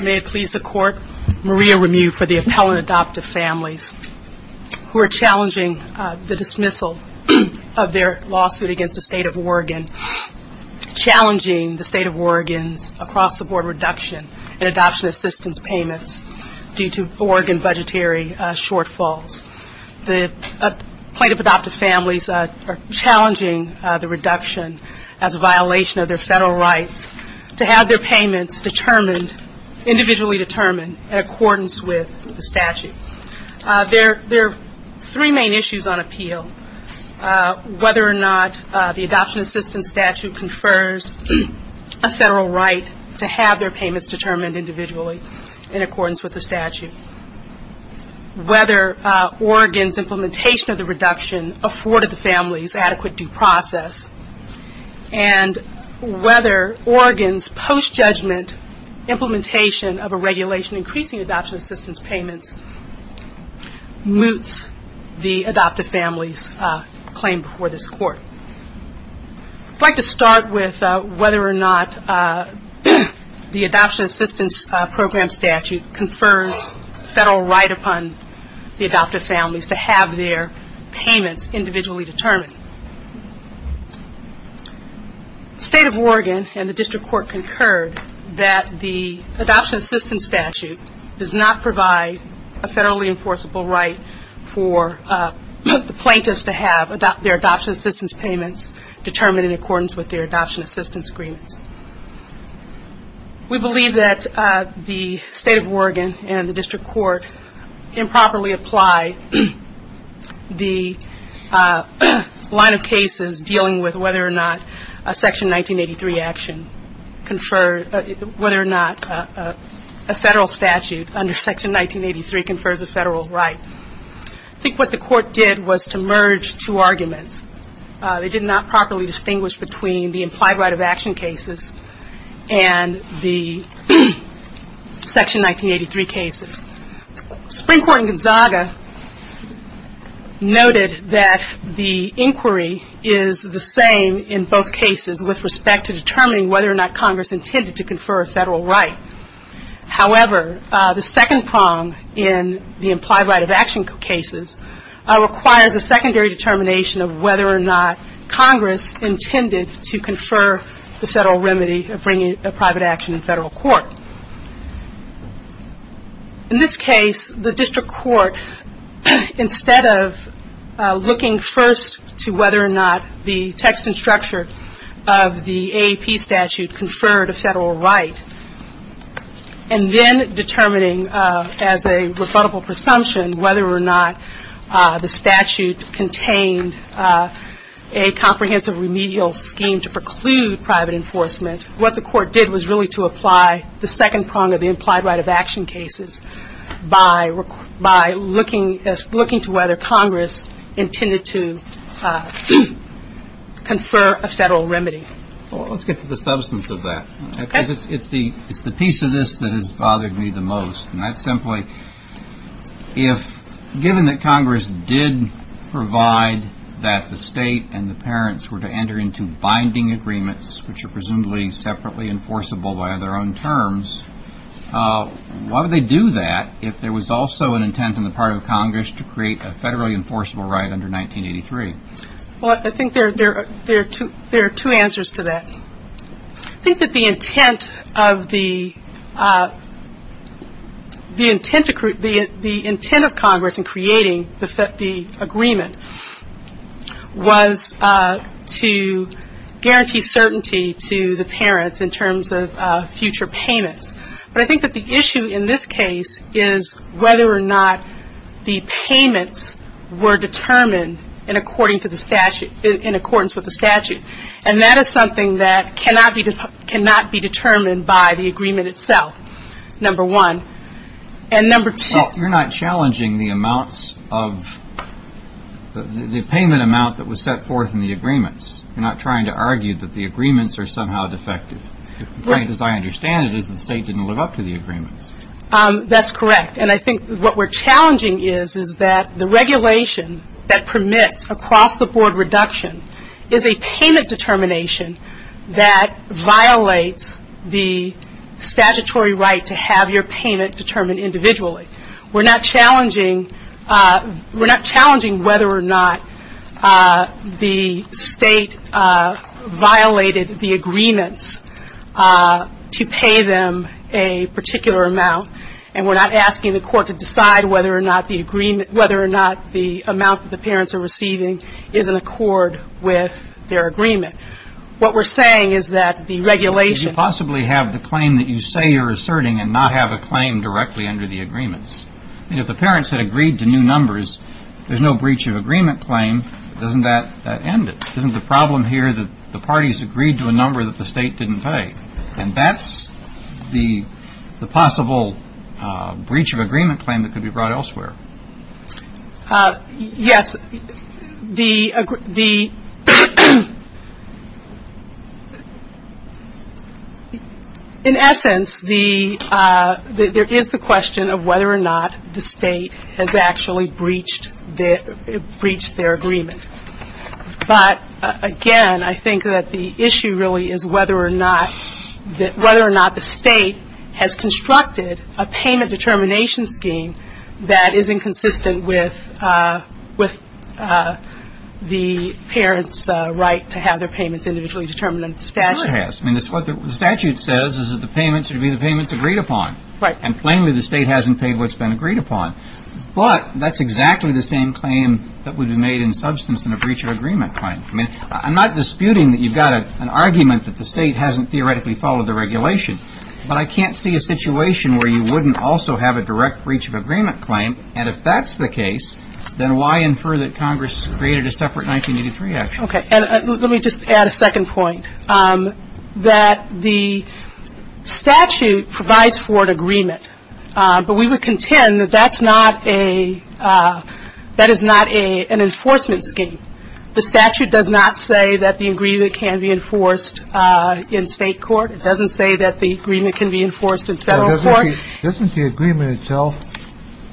May it please the Court, Maria Remue for the appellant adoptive families who are challenging the dismissal of their lawsuit against the State of Oregon, challenging the State of Oregon's across-the-board reduction in adoption assistance payments due to Oregon budgetary shortfalls. The plaintiff adoptive families are challenging the reduction as a violation of their federal rights to have their payments determined, individually determined, in accordance with the statute. There are three main issues on appeal. Whether or not the adoption assistance statute confers a federal right to have their payments determined individually in accordance with the statute. Whether Oregon's implementation of the reduction afforded the families adequate due process. And whether Oregon's post-judgment implementation of a regulation increasing adoption assistance payments moots the adoptive families' claim before this Court. I'd like to start with whether or not the adoption assistance program statute confers federal right upon the adoptive families to have their payments individually determined. State of Oregon and the District Court concurred that the adoption assistance statute does not provide a federally enforceable right for the plaintiffs to have their adoption assistance payments determined in accordance with their adoption assistance agreements. We believe that the State of Oregon and the District Court improperly apply the line of cases dealing with whether or not a Section 1983 action conferred, whether or not a federal statute under Section 1983 confers a federal right. I think what the Court did was to merge two arguments. They did not properly distinguish between the implied right of action cases and the Section 1983 cases. Supreme Court in Gonzaga noted that the inquiry is the same in both cases with respect to determining whether or not Congress intended to confer a federal right. However, the second determination of whether or not Congress intended to confer the federal remedy of bringing a private action in federal court. In this case, the District Court, instead of looking first to whether or not the text and structure of the AAP statute conferred a federal right, and then determining as a presumption whether or not the statute contained a comprehensive remedial scheme to preclude private enforcement, what the Court did was really to apply the second prong of the implied right of action cases by looking to whether Congress intended to confer a federal remedy. Well, let's get to the substance of that, because it's the piece of this that has bothered me the most. And that's simply, if given that Congress did provide that the state and the parents were to enter into binding agreements, which are presumably separately enforceable by their own terms, why would they do that if there was also an intent on the part of Congress to create a federally enforceable right under 1983? Well, I think there are two answers to that. I think that the intent of the intent of Congress in creating the agreement was to guarantee certainty to the parents in terms of future payments. But I think that the issue in this case is whether or not the payments were determined in accordance with the statute. And that is something that cannot be determined by the agreement itself, number one. And number two — Well, you're not challenging the amounts of — the payment amount that was set forth in the agreements. You're not trying to argue that the agreements are somehow defective. The point, as I understand it, is the state didn't live up to the agreements. That's correct. And I think what we're challenging is, is that the regulation that permits across-the-board reduction is a payment determination that violates the statutory right to have your payment determined individually. We're not challenging — we're not challenging whether or not the state violated the agreements to pay them a particular amount. And we're not asking the court to decide whether or not the agreement — whether or not the amount that the parents are receiving is in accord with their agreement. What we're saying is that the regulation — Did you possibly have the claim that you say you're asserting and not have a claim directly under the agreements? I mean, if the parents had agreed to new numbers, there's no breach of agreement claim. Doesn't that end it? Isn't the problem here that the parties agreed to a number that the state didn't pay? And that's the possible breach of agreement claim that could be brought elsewhere. Yes. The — in essence, the — there is the question of whether or not the state has actually breached their agreement. But, again, I think that the issue really is whether or not — whether or not the state has constructed a payment determination scheme that is inconsistent with the parents' right to have their payments individually determined under the statute. Sure it has. I mean, it's what the statute says is that the payments should be the payments agreed upon. Right. And plainly, the state hasn't paid what's been agreed upon. But that's exactly the same claim that would be made in substance in a breach of agreement claim. I mean, I'm not disputing that you've got an argument that the state hasn't theoretically followed the regulation. But I can't see a situation where you wouldn't also have a direct breach of agreement claim. And if that's the case, then why infer that Congress created a separate 1983 action? Okay. And let me just add a second point, that the statute provides for an agreement. But we would contend that that's not a — that is not an enforcement scheme. The statute does not say that the agreement can be enforced in state court. It doesn't say that the agreement can be enforced in federal court. Doesn't the agreement itself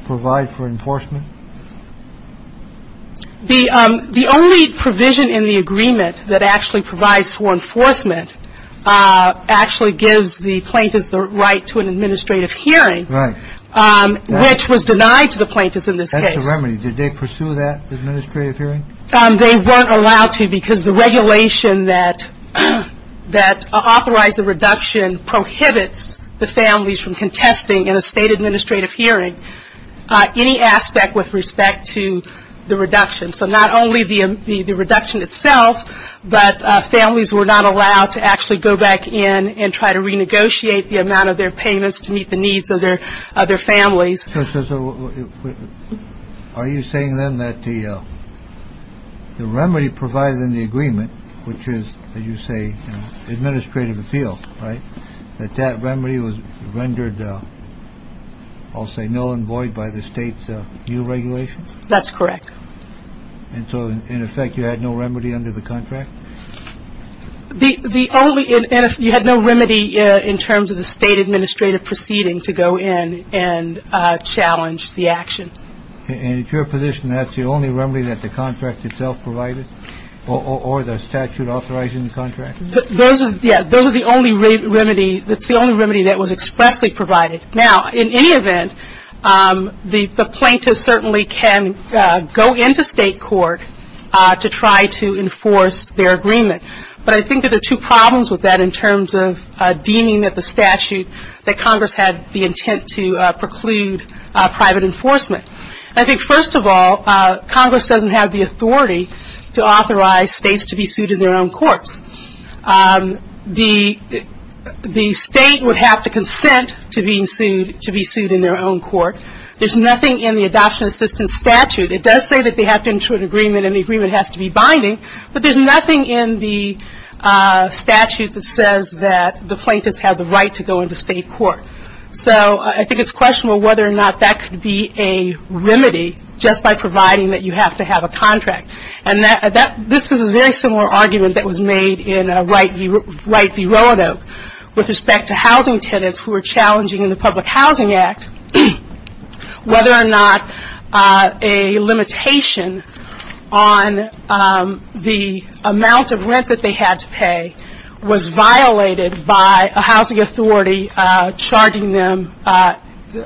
provide for enforcement? The only provision in the agreement that actually provides for enforcement actually gives the plaintiffs the right to an administrative hearing. Right. Which was denied to the plaintiffs in this case. That's a remedy. Did they pursue that administrative hearing? They weren't allowed to because the regulation that authorized the reduction prohibits the families from contesting in a state administrative hearing any aspect with respect to the reduction. So not only the reduction itself, but families were not allowed to actually go back in and try to renegotiate the amount of their payments to meet the needs of their other families. So are you saying then that the remedy provided in the agreement, which is, as you say, administrative appeal, right, that that remedy was rendered, I'll say, null and void by the state's new regulations? That's correct. And so, in effect, you had no remedy under the contract? The only — you had no remedy in terms of the state administrative proceeding to go in and challenge the action. And it's your position that's the only remedy that the contract itself provided or the statute authorizing the contract? Those are the only remedy — that's the only remedy that was expressly provided. Now, in any event, the plaintiffs certainly can go into state court to try to enforce their agreement. But I think that there are two problems with that in terms of deeming that the statute, that Congress had the intent to preclude private enforcement. I think, first of all, Congress doesn't have the authority to authorize states to be sued in their own courts. The state would have to consent to being sued — to be sued in their own court. There's nothing in the Adoption Assistance Statute — it does say that they have to ensure an agreement and the agreement has to be binding, but there's nothing in the statute that says that the plaintiffs have the right to go into state court. So I think it's questionable whether or not that could be a remedy just by providing that you have to have a contract. And this is a very similar argument that was made in a right v. relative with respect to housing tenants who were challenging the Public Housing Act whether or not a limitation on the amount of rent that they had to pay was violated by a housing authority charging them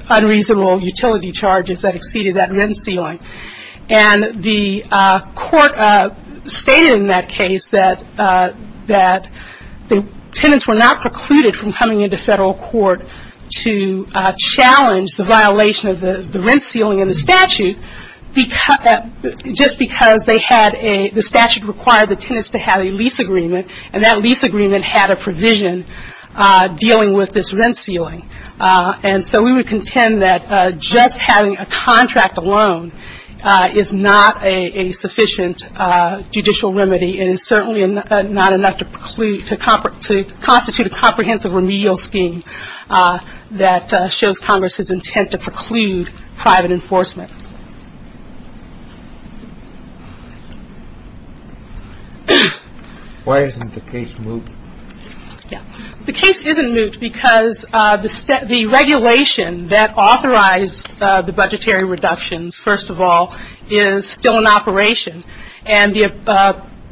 unreasonable utility charges that exceeded that rent ceiling. And the court stated in that case that the tenants were not precluded from coming into federal court to challenge the violation of the rent ceiling in the statute just because the statute required the tenants to have a lease agreement and that lease agreement had a provision dealing with this rent ceiling. And so we would contend that just having a contract alone is not a sufficient judicial remedy. It is certainly not enough to constitute a comprehensive remedial scheme that shows Congress's intent to preclude private enforcement. Why isn't the case moved? The case isn't moved because the regulation that authorized the budgetary reductions, first of all, is still in operation. And the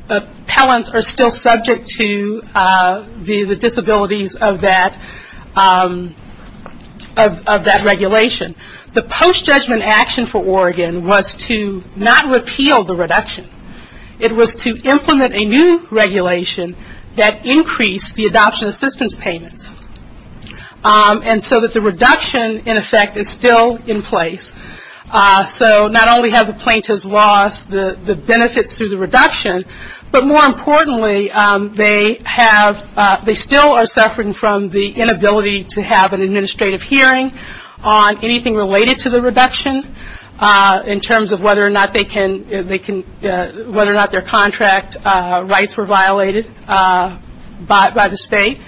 appellants are still subject to the disabilities of that regulation. The post-judgment action for Oregon was to not repeal the reduction. It was to implement a new regulation that increased the adoption assistance payments. And so that the reduction, in effect, is still in place. So not only have the plaintiffs lost the benefits through the reduction, but more importantly, they still are suffering from the inability to have an administrative hearing on anything related to the reduction in terms of whether or not their contract rights were violated by the state.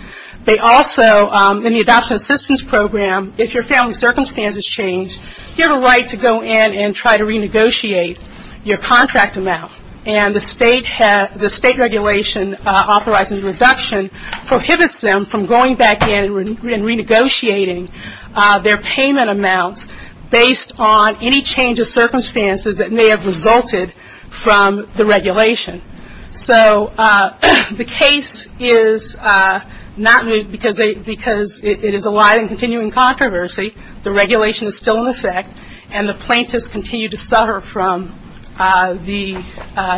They also, in the adoption assistance program, if your family's circumstances change, you have a right to go in and try to renegotiate your contract amount. And the state regulation authorizing the reduction prohibits them from going back in and renegotiating their payment amount based on any change of circumstances that may have resulted from the regulation. So the case is not moved because it is a lie in continuing controversy. The regulation is still in effect, and the plaintiffs continue to suffer from the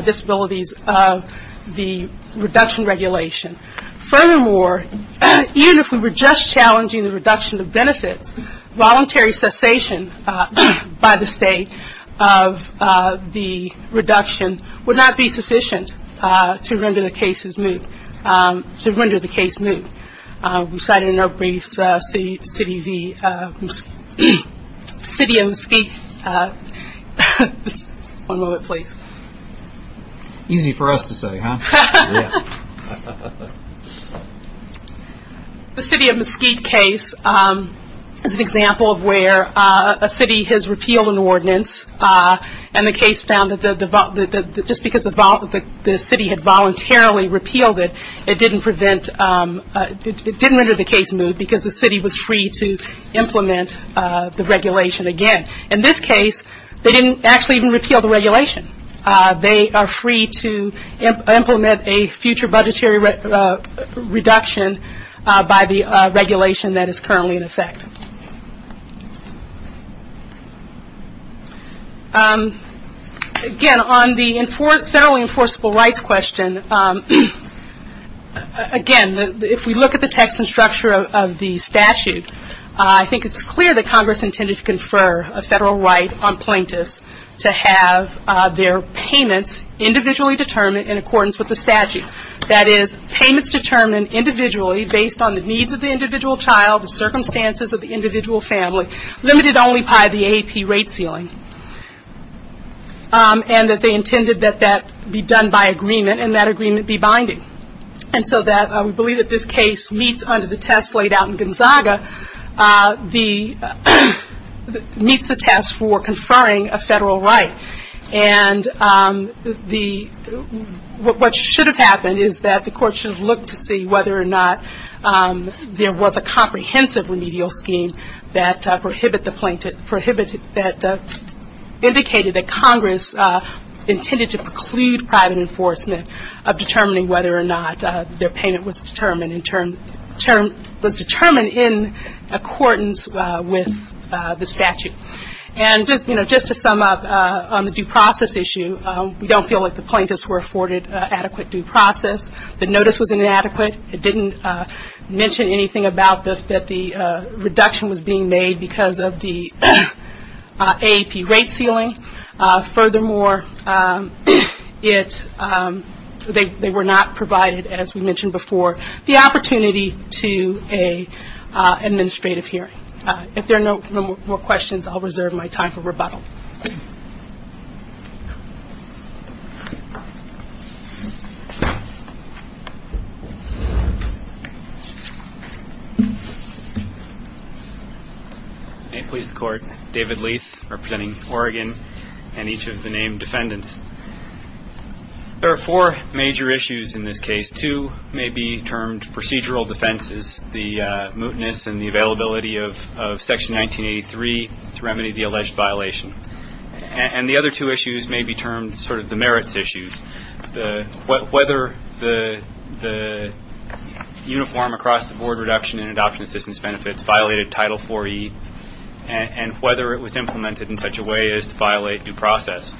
disabilities of the reduction regulation. Furthermore, even if we were just challenging the reduction of benefits, voluntary cessation by the state of the reduction would not be sufficient to render the case moved. We cited in our briefs the City of Mesquite case as an example of where a city has repealed an ordinance, and the case found that just because the city had voluntarily repealed it, it didn't render the case moved because the city was free to implement the regulation again. In this case, they didn't actually even repeal the regulation. They are free to implement a future budgetary reduction by the regulation that is currently in effect. Again, on the federally enforceable rights question, again, if we look at the text and structure of the statute, I think it's clear that Congress intended to confer a federal right on plaintiffs to have their payments individually determined in accordance with the statute. That is, payments determined individually based on the needs of the individual child, the circumstances of the individual family, limited only by the AAP rate ceiling. And that they intended that that be done by agreement, and that agreement be binding. And so we believe that this case meets under the test laid out in Gonzaga, meets the test for conferring a federal right. And what should have happened is that the court should have looked to see whether or not there was a comprehensive remedial scheme that prohibited the plaintiff, that indicated that Congress intended to preclude private enforcement of determining whether or not their payment was determined in accordance with the statute. And just to sum up on the due process issue, we don't feel like the plaintiffs were afforded adequate due process. The notice was inadequate. It didn't mention anything about that the reduction was being made because of the AAP rate ceiling. Furthermore, they were not provided, as we mentioned before, the opportunity to an administrative hearing. If there are no more questions, I'll reserve my time for rebuttal. David Leath, representing Oregon, and each of the named defendants. There are four major issues in this case. The two may be termed procedural defenses, the mootness and the availability of Section 1983 to remedy the alleged violation. And the other two issues may be termed sort of the merits issues, whether the uniform across the board reduction in adoption assistance benefits violated Title IV-E and whether it was implemented in such a way as to violate due process.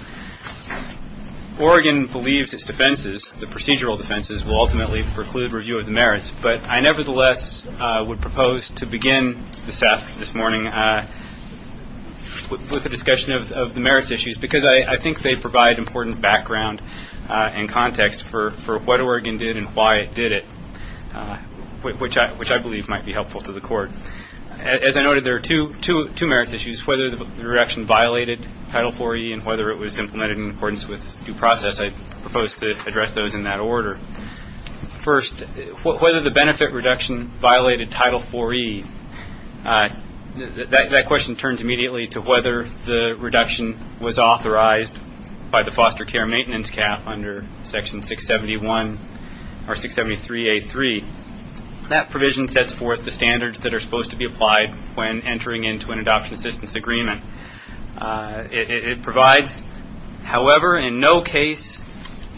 Oregon believes its defenses, the procedural defenses, will ultimately preclude review of the merits, but I nevertheless would propose to begin the staff this morning with a discussion of the merits issues because I think they provide important background and context for what Oregon did and why it did it, which I believe might be helpful to the court. As I noted, there are two merits issues, whether the reduction violated Title IV-E and whether it was implemented in accordance with due process. I propose to address those in that order. First, whether the benefit reduction violated Title IV-E, that question turns immediately to whether the reduction was authorized by the foster care maintenance cap under Section 671 or 673A3. That provision sets forth the standards that are supposed to be applied when entering into an adoption assistance agreement. It provides, however, in no case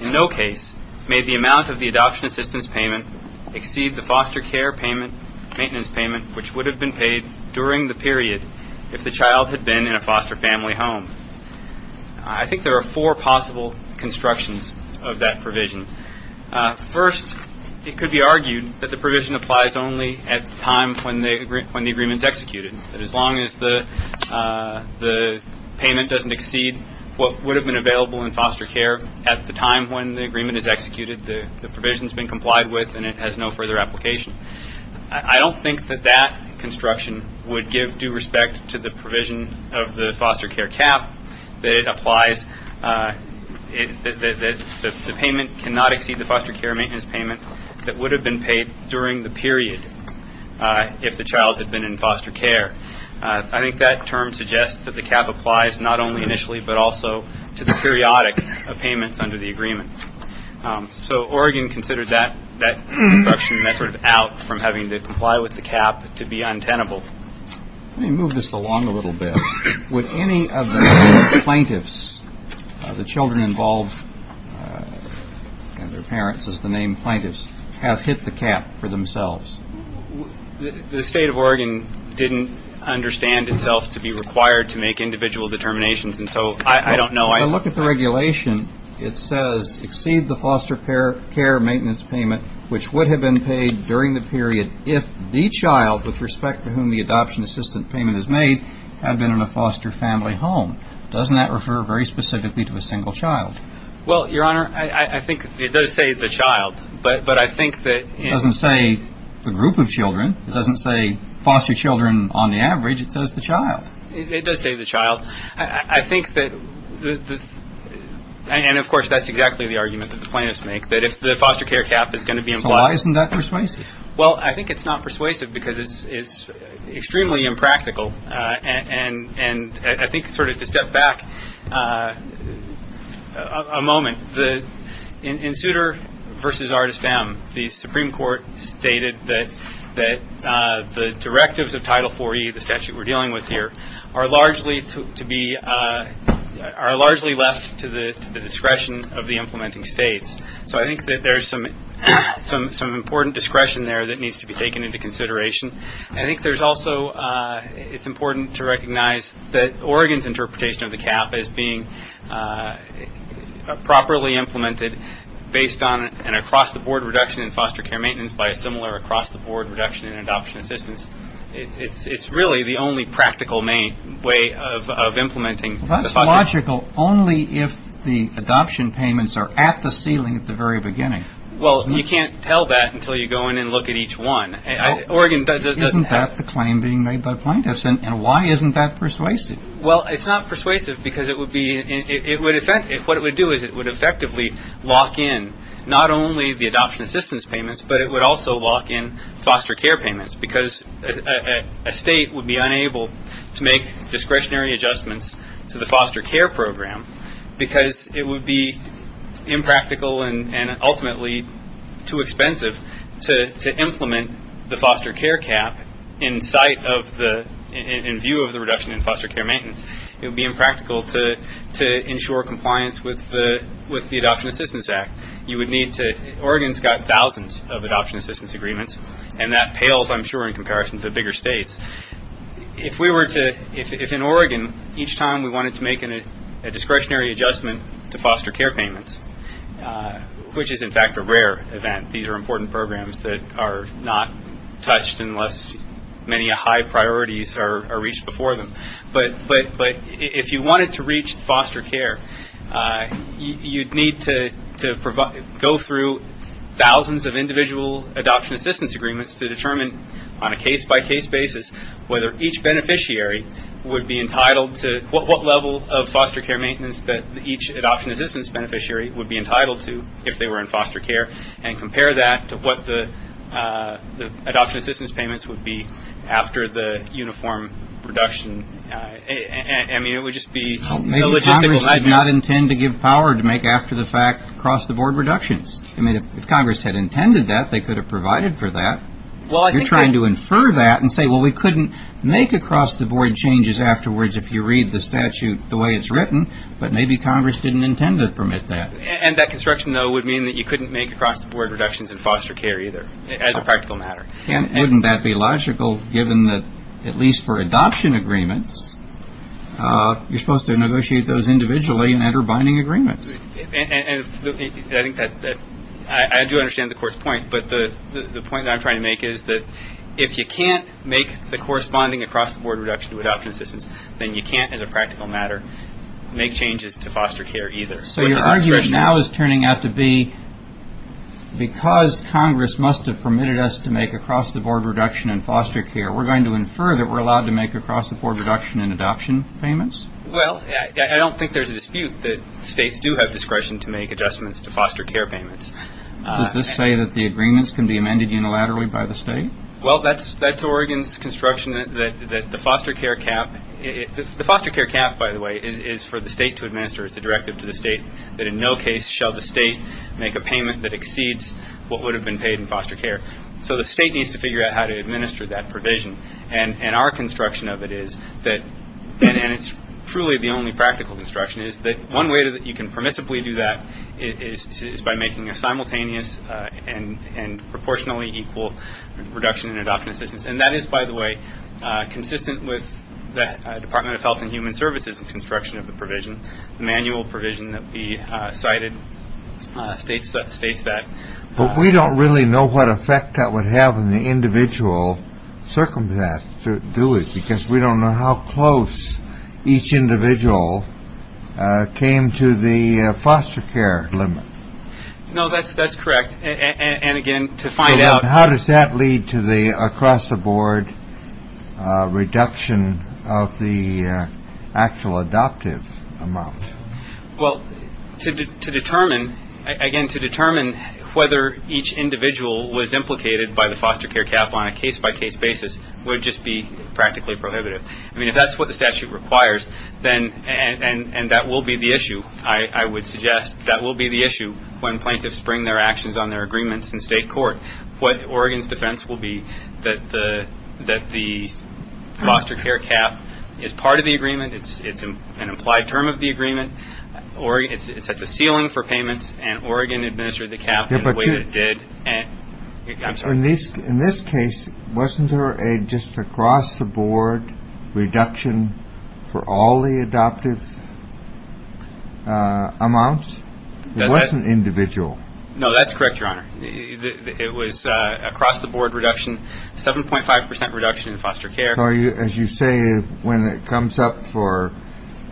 may the amount of the adoption assistance payment exceed the foster care payment, maintenance payment, which would have been paid during the period if the child had been in a foster family home. I think there are four possible constructions of that provision. First, it could be argued that the provision applies only at the time when the agreement is executed. As long as the payment doesn't exceed what would have been available in foster care at the time when the agreement is executed, the provision has been complied with and it has no further application. I don't think that that construction would give due respect to the provision of the foster care cap that applies that the payment cannot exceed the foster care maintenance payment that would have been paid during the period if the child had been in foster care. I think that term suggests that the cap applies not only initially but also to the periodic of payments under the agreement. So Oregon considered that construction method out from having to comply with the cap to be untenable. Let me move this along a little bit. Would any of the plaintiffs, the children involved and their parents, as the name plaintiffs, have hit the cap for themselves? The State of Oregon didn't understand itself to be required to make individual determinations, and so I don't know. When I look at the regulation, it says exceed the foster care maintenance payment, which would have been paid during the period if the child, with respect to whom the adoption assistant payment is made, had been in a foster family home. Doesn't that refer very specifically to a single child? Well, Your Honor, I think it does say the child. But I think that it doesn't say the group of children. It doesn't say foster children on the average. It says the child. It does say the child. And, of course, that's exactly the argument that the plaintiffs make, that if the foster care cap is going to be implied. So why isn't that persuasive? Well, I think it's not persuasive because it's extremely impractical. And I think sort of to step back a moment, in Souter v. Artist M, the Supreme Court stated that the directives of Title IV-E, the statute we're dealing with here, are largely left to the discretion of the implementing states. So I think that there's some important discretion there that needs to be taken into consideration. I think there's also, it's important to recognize that Oregon's interpretation of the cap as being properly implemented based on an across-the-board reduction in foster care maintenance by a similar across-the-board reduction in adoption assistance. It's really the only practical way of implementing the funding. Well, that's logical only if the adoption payments are at the ceiling at the very beginning. Well, you can't tell that until you go in and look at each one. Isn't that the claim being made by plaintiffs? And why isn't that persuasive? Well, it's not persuasive because it would be, what it would do is it would effectively lock in not only the adoption assistance payments, but it would also lock in foster care payments, because a state would be unable to make discretionary adjustments to the foster care program because it would be impractical and ultimately too expensive to implement the foster care cap in view of the reduction in foster care maintenance. It would be impractical to ensure compliance with the Adoption Assistance Act. Oregon's got thousands of adoption assistance agreements, and that pales, I'm sure, in comparison to the bigger states. If in Oregon each time we wanted to make a discretionary adjustment to foster care payments, which is in fact a rare event, these are important programs that are not touched unless many high priorities are reached before them. But if you wanted to reach foster care, you'd need to go through thousands of individual adoption assistance agreements to determine on a case-by-case basis whether each beneficiary would be entitled to, what level of foster care maintenance that each adoption assistance beneficiary would be entitled to if they were in foster care, and compare that to what the adoption assistance payments would be after the uniform reduction. I mean, it would just be illogistical. Maybe Congress did not intend to give power to make after-the-fact across-the-board reductions. I mean, if Congress had intended that, they could have provided for that. You're trying to infer that and say, well, we couldn't make across-the-board changes afterwards if you read the statute the way it's written, but maybe Congress didn't intend to permit that. And that construction, though, would mean that you couldn't make across-the-board reductions in foster care either, as a practical matter. And wouldn't that be illogical, given that at least for adoption agreements, you're supposed to negotiate those individually and enter binding agreements? I do understand the Court's point, but the point that I'm trying to make is that if you can't make the corresponding across-the-board reduction to adoption assistance, then you can't, as a practical matter, make changes to foster care either. So your argument now is turning out to be, because Congress must have permitted us to make across-the-board reduction in foster care, we're going to infer that we're allowed to make across-the-board reduction in adoption payments? Well, I don't think there's a dispute that states do have discretion to make adjustments to foster care payments. Does this say that the agreements can be amended unilaterally by the state? Well, that's Oregon's construction, that the foster care cap – that in no case shall the state make a payment that exceeds what would have been paid in foster care. So the state needs to figure out how to administer that provision. And our construction of it is that – and it's truly the only practical construction – is that one way that you can permissibly do that is by making a simultaneous and proportionally equal reduction in adoption assistance. And that is, by the way, consistent with the Department of Health and Human Services' construction of the provision. The manual provision that we cited states that. But we don't really know what effect that would have on the individual circumstance to do it, because we don't know how close each individual came to the foster care limit. No, that's correct. And again, to find out – And how does that lead to the across-the-board reduction of the actual adoptive amount? Well, to determine – again, to determine whether each individual was implicated by the foster care cap on a case-by-case basis would just be practically prohibitive. I mean, if that's what the statute requires, then – and that will be the issue, I would suggest. That will be the issue when plaintiffs bring their actions on their agreements in state court. What Oregon's defense will be that the foster care cap is part of the agreement, it's an implied term of the agreement, it sets a ceiling for payments, and Oregon administered the cap in the way that it did. In this case, wasn't there a just across-the-board reduction for all the adoptive amounts? It wasn't individual. No, that's correct, Your Honor. It was across-the-board reduction, 7.5% reduction in foster care. So as you say, when it comes up for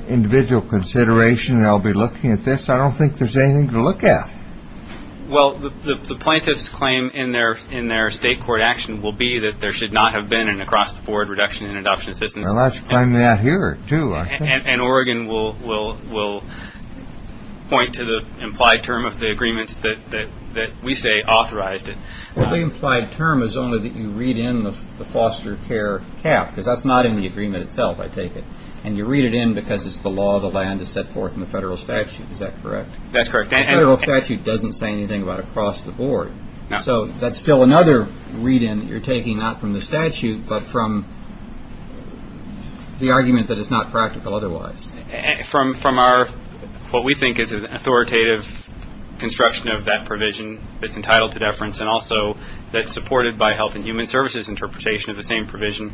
individual consideration, they'll be looking at this. I don't think there's anything to look at. Well, the plaintiff's claim in their state court action will be that there should not have been an across-the-board reduction in adoption assistance. Well, that's claimed out here, too, I think. And Oregon will point to the implied term of the agreements that we say authorized it. Well, the implied term is only that you read in the foster care cap, because that's not in the agreement itself, I take it. And you read it in because it's the law, the land is set forth in the federal statute. Is that correct? That's correct. The federal statute doesn't say anything about across-the-board. So that's still another read-in that you're taking, not from the statute, but from the argument that it's not practical otherwise. From what we think is an authoritative construction of that provision that's entitled to deference and also that's supported by health and human services interpretation of the same provision.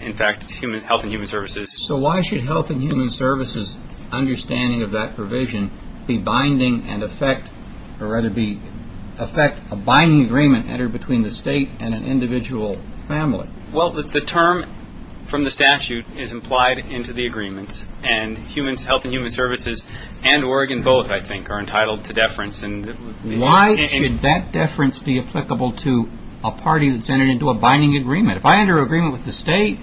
In fact, health and human services. So why should health and human services' understanding of that provision be binding and affect a binding agreement entered between the state and an individual family? Well, the term from the statute is implied into the agreements, and health and human services and Oregon both, I think, are entitled to deference. Why should that deference be applicable to a party that's entered into a binding agreement? If I enter an agreement with the state,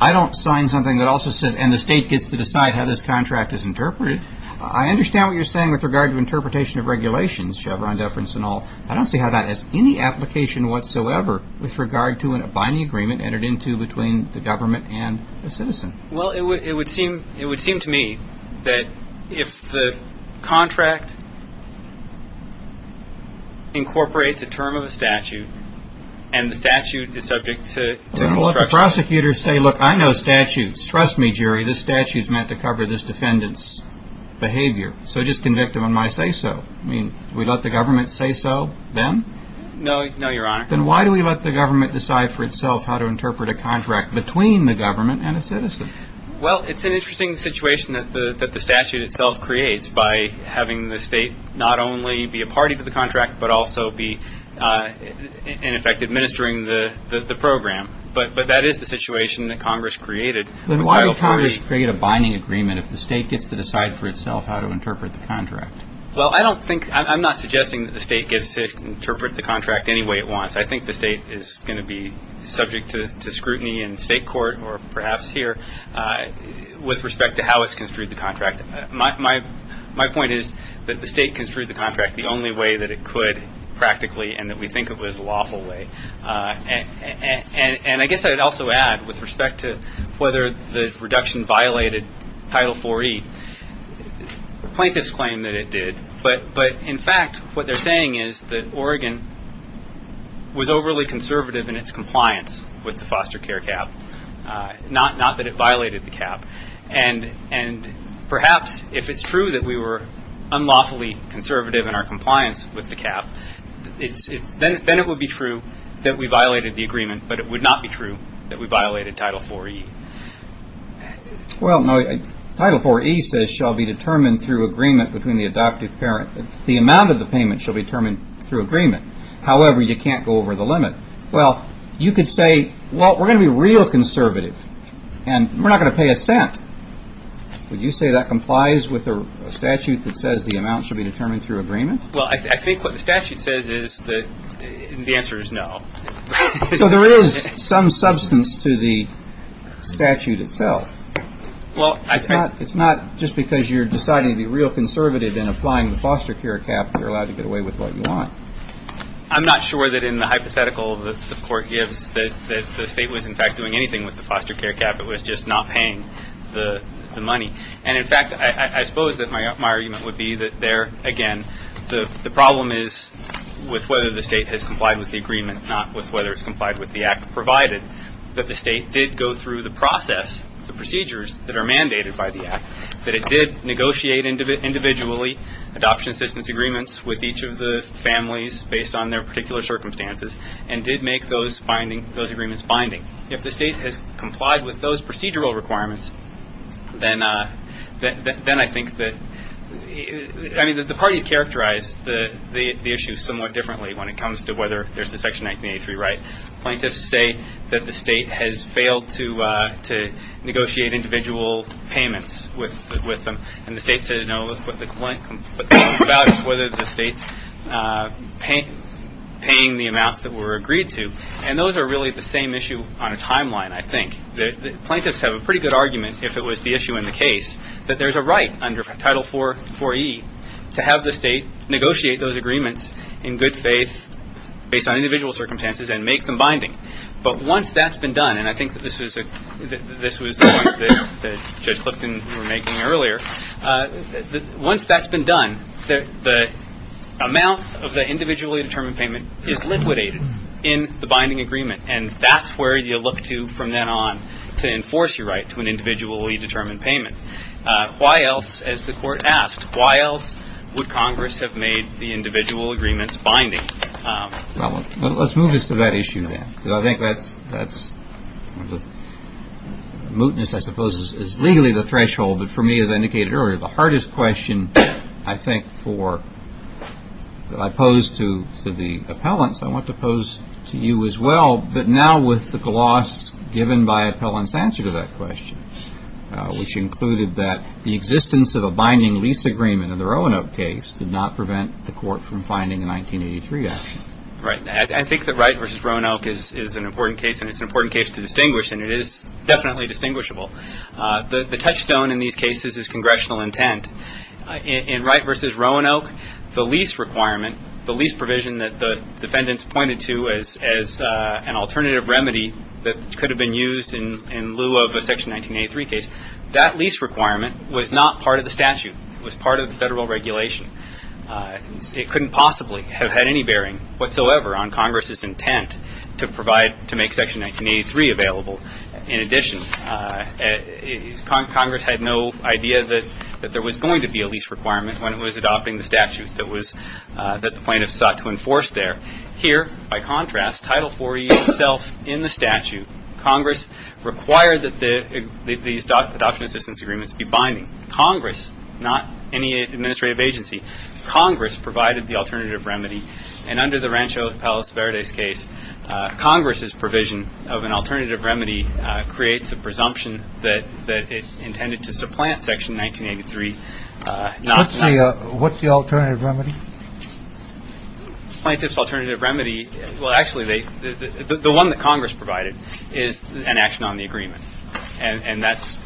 I don't sign something that also says, and the state gets to decide how this contract is interpreted. I understand what you're saying with regard to interpretation of regulations, Chevron deference and all. I don't see how that has any application whatsoever with regard to a binding agreement entered into between the government and a citizen. Well, it would seem to me that if the contract incorporates a term of a statute and the statute is subject to construction. Well, let the prosecutor say, look, I know statutes. Trust me, jury, this statute is meant to cover this defendant's behavior. So just convict him on my say-so. I mean, we let the government say so then? No, Your Honor. Then why do we let the government decide for itself how to interpret a contract between the government and a citizen? Well, it's an interesting situation that the statute itself creates by having the state not only be a party to the contract but also be, in effect, administering the program. But that is the situation that Congress created. Why would Congress create a binding agreement if the state gets to decide for itself how to interpret the contract? Well, I don't think – I'm not suggesting that the state gets to interpret the contract any way it wants. I think the state is going to be subject to scrutiny in state court or perhaps here with respect to how it's construed the contract. My point is that the state construed the contract the only way that it could practically and that we think it was a lawful way. And I guess I would also add with respect to whether the reduction violated Title IV-E. Plaintiffs claim that it did. But, in fact, what they're saying is that Oregon was overly conservative in its compliance with the foster care cap, not that it violated the cap. And perhaps if it's true that we were unlawfully conservative in our compliance with the cap, then it would be true that we violated the agreement. But it would not be true that we violated Title IV-E. Well, Title IV-E says shall be determined through agreement between the adoptive parent. The amount of the payment shall be determined through agreement. However, you can't go over the limit. Well, you could say, well, we're going to be real conservative and we're not going to pay a cent. Would you say that complies with a statute that says the amount should be determined through agreement? Well, I think what the statute says is that the answer is no. So there is some substance to the statute itself. It's not just because you're deciding to be real conservative in applying the foster care cap that you're allowed to get away with what you want. I'm not sure that in the hypothetical that the court gives that the state was, in fact, doing anything with the foster care cap. It was just not paying the money. And, in fact, I suppose that my argument would be that there, again, the problem is with whether the state has complied with the agreement, not with whether it's complied with the act provided that the state did go through the process, the procedures that are mandated by the act, that it did negotiate individually adoption assistance agreements with each of the families based on their particular circumstances and did make those agreements binding. If the state has complied with those procedural requirements, then I think that the parties characterize the issue somewhat differently when it comes to whether there's the Section 1983 right. Plaintiffs say that the state has failed to negotiate individual payments with them, and the state says, no, but the complaint is about whether the state's paying the amounts that were agreed to. And those are really the same issue on a timeline, I think. Plaintiffs have a pretty good argument, if it was the issue in the case, that there's a right under Title IV-E to have the state negotiate those agreements in good faith based on individual circumstances and make them binding. But once that's been done, and I think that this was the point that Judge Clifton was making earlier, once that's been done, the amount of the individually determined payment is liquidated in the binding agreement, and that's where you look to from then on to enforce your right to an individually determined payment. Why else, as the Court asked, why else would Congress have made the individual agreements binding? Well, let's move us to that issue then, because I think that's the mootness, I suppose, is legally the threshold, but for me, as I indicated earlier, the hardest question, I think, that I pose to the appellants, I want to pose to you as well, but now with the gloss given by appellants' answer to that question, which included that the existence of a binding lease agreement in the Roanoke case did not prevent the Court from finding a 1983 action. Right. I think that Wright v. Roanoke is an important case, and it's an important case to distinguish, and it is definitely distinguishable. The touchstone in these cases is congressional intent. In Wright v. Roanoke, the lease requirement, the lease provision that the defendants pointed to as an alternative remedy that could have been used in lieu of a Section 1983 case, that lease requirement was not part of the statute. It was part of the federal regulation. It couldn't possibly have had any bearing whatsoever on Congress's intent to provide, to make Section 1983 available. In addition, Congress had no idea that there was going to be a lease requirement when it was adopting the statute that the plaintiffs sought to enforce there. Here, by contrast, Title IV-E itself in the statute, Congress required that these adoption assistance agreements be binding. Congress, not any administrative agency, Congress provided the alternative remedy, and under the Rancho Palos Verdes case, Congress's provision of an alternative remedy creates a presumption that it intended to supplant Section 1983. What's the alternative remedy? Plaintiff's alternative remedy, well, actually, the one that Congress provided is an action on the agreement, and that's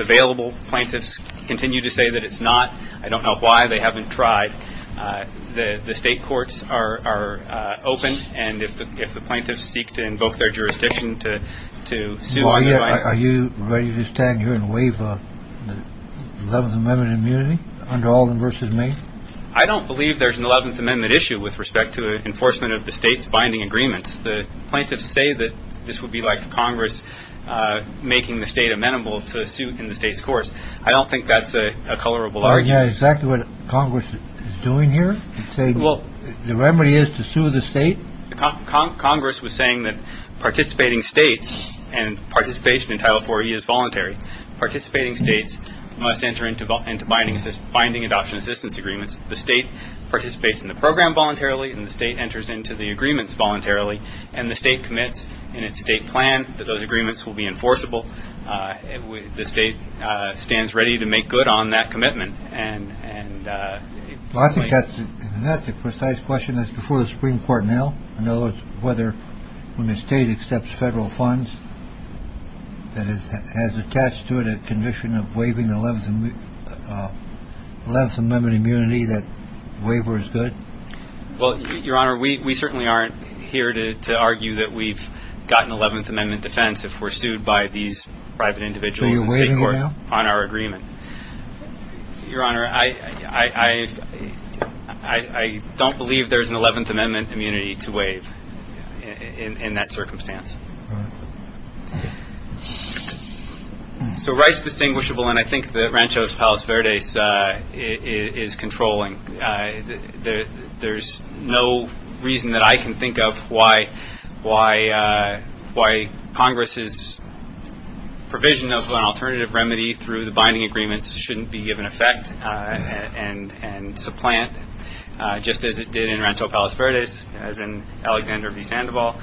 available. Plaintiffs continue to say that it's not. I don't know why they haven't tried. The state courts are open, and if the plaintiffs seek to invoke their jurisdiction to sue otherwise. Are you ready to stand here and waive the Eleventh Amendment immunity under Alden v. May? I don't believe there's an Eleventh Amendment issue with respect to enforcement of the state's binding agreements. The plaintiffs say that this would be like Congress making the state amenable to a suit in the state's courts. I don't think that's a colorable argument. Yeah, exactly what Congress is doing here. Well, the remedy is to sue the state. Congress was saying that participating states and participation in Title IV-E is voluntary. Participating states must enter into binding adoption assistance agreements. The state participates in the program voluntarily, and the state enters into the agreements voluntarily, and the state commits in its state plan that those agreements will be enforceable. The state stands ready to make good on that commitment. I think that's a precise question. That's before the Supreme Court now. In other words, whether when the state accepts federal funds, that it has attached to it a condition of waiving the Eleventh Amendment immunity that the waiver is good. Well, Your Honor, we certainly aren't here to argue that we've got an Eleventh Amendment defense if we're sued by these private individuals in state court on our agreement. Your Honor, I don't believe there's an Eleventh Amendment immunity to waive in that circumstance. So Rice Distinguishable, and I think that Ranchos Palos Verdes, is controlling. There's no reason that I can think of why Congress's provision of an alternative remedy through the binding agreements shouldn't be given effect and supplant, just as it did in Rancho Palos Verdes, as in Alexander v. Sandoval.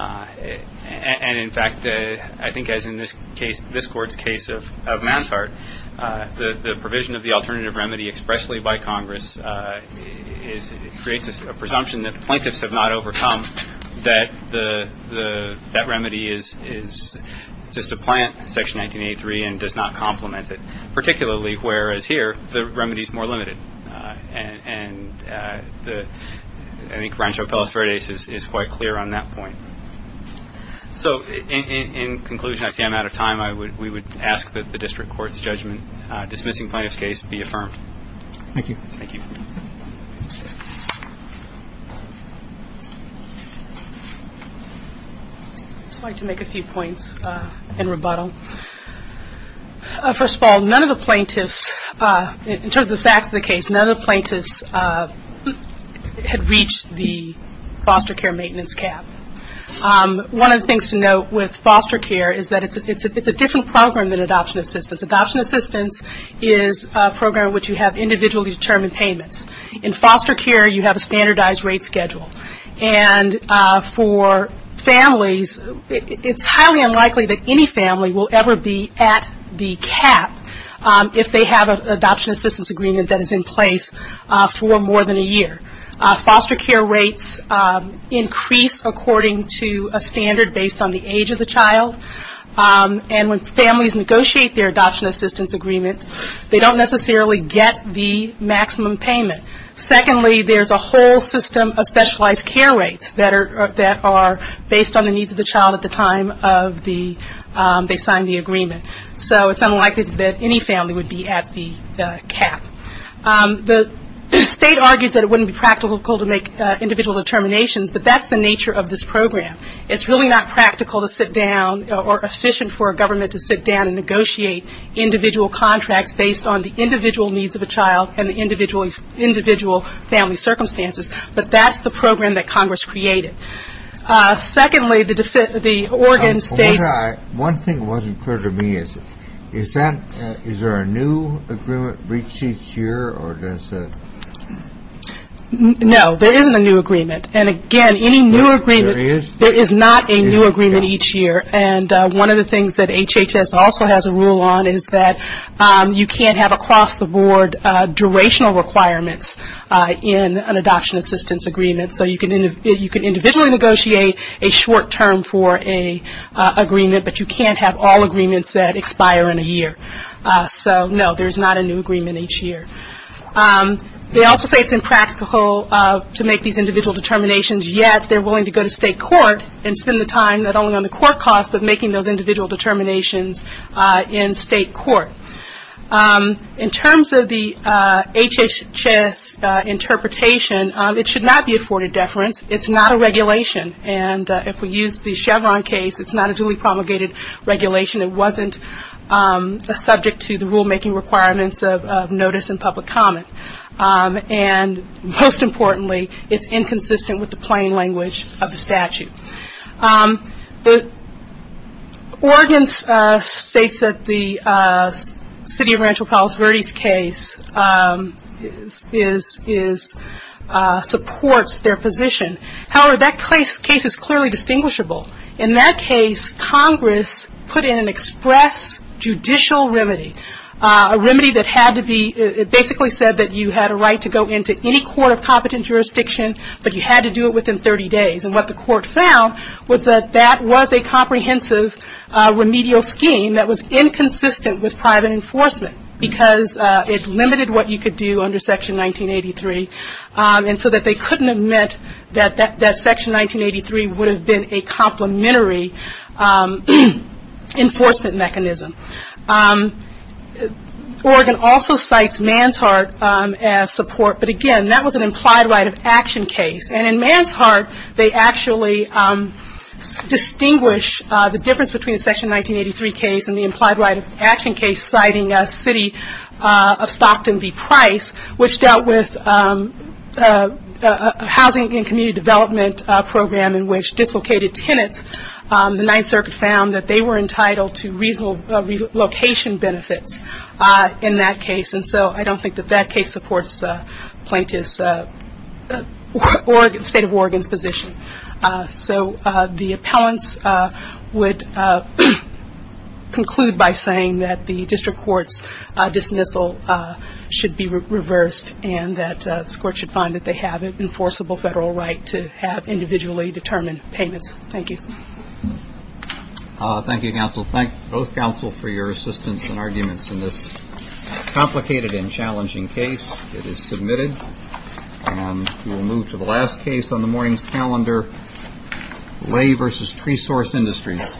And in fact, I think as in this court's case of Mansart, the provision of the alternative remedy expressly by Congress creates a presumption that the plaintiffs have not overcome that that remedy is to supplant Section 1983 and does not complement it, particularly whereas here the remedy is more limited. And I think Rancho Palos Verdes is quite clear on that point. So in conclusion, I see I'm out of time. We would ask that the district court's judgment dismissing plaintiff's case be affirmed. Thank you. Thank you. I'd just like to make a few points in rebuttal. First of all, none of the plaintiffs, in terms of the facts of the case, none of the plaintiffs had reached the foster care maintenance cap. One of the things to note with foster care is that it's a different program than adoption assistance. Adoption assistance is a program in which you have individually determined payments. In foster care, you have a standardized rate schedule. And for families, it's highly unlikely that any family will ever be at the cap if they have an adoption assistance agreement that is in place for more than a year. Foster care rates increase according to a standard based on the age of the child. And when families negotiate their adoption assistance agreement, they don't necessarily get the maximum payment. Secondly, there's a whole system of specialized care rates that are based on the needs of the child at the time of the agreement, so it's unlikely that any family would be at the cap. The State argues that it wouldn't be practical to make individual determinations, but that's the nature of this program. It's really not practical to sit down or efficient for a government to sit down and negotiate individual contracts based on the individual needs of the child and the individual family circumstances, but that's the program that Congress created. Secondly, the Oregon State's One thing that wasn't clear to me is, is there a new agreement reached each year? No, there isn't a new agreement. And again, any new agreement, there is not a new agreement each year. And one of the things that HHS also has a rule on is that you can't have across the board durational requirements in an adoption assistance agreement. So you can individually negotiate a short term for an agreement, but you can't have all agreements that expire in a year. So, no, there's not a new agreement each year. They also say it's impractical to make these individual determinations, yet they're willing to go to state court and spend the time not only on the court costs, but making those individual determinations in state court. In terms of the HHS interpretation, it should not be afforded deference. It's not a regulation. And if we use the Chevron case, it's not a duly promulgated regulation. It wasn't subject to the rulemaking requirements of notice and public comment. And most importantly, it's inconsistent with the plain language of the statute. Oregon states that the city of Rancho Palos Verdes case supports their position. However, that case is clearly distinguishable. In that case, Congress put in an express judicial remedy, a remedy that basically said that you had a right to go into any court of competent jurisdiction, but you had to do it within 30 days. And what the court found was that that was a comprehensive remedial scheme that was inconsistent with private enforcement because it limited what you could do under Section 1983, and so that they couldn't have meant that that Section 1983 would have been a complementary enforcement mechanism. Oregon also cites Manshardt as support. But again, that was an implied right of action case. And in Manshardt, they actually distinguish the difference between the Section 1983 case and the implied right of action case citing a city of Stockton v. Price, which dealt with a housing and community development program in which dislocated tenants, the Ninth Circuit found that they were entitled to reasonable relocation benefits in that case. And so I don't think that that case supports plaintiff's State of Oregon's position. So the appellants would conclude by saying that the district court's dismissal should be reversed and that this court should find that they have an enforceable federal right to have individually determined payments. Thank you. Thank you, counsel. Thank both counsel for your assistance and arguments in this complicated and challenging case. It is submitted. And we'll move to the last case on the morning's calendar, Lay v. Tree Source Industries. Thank you, counsel. Thank you.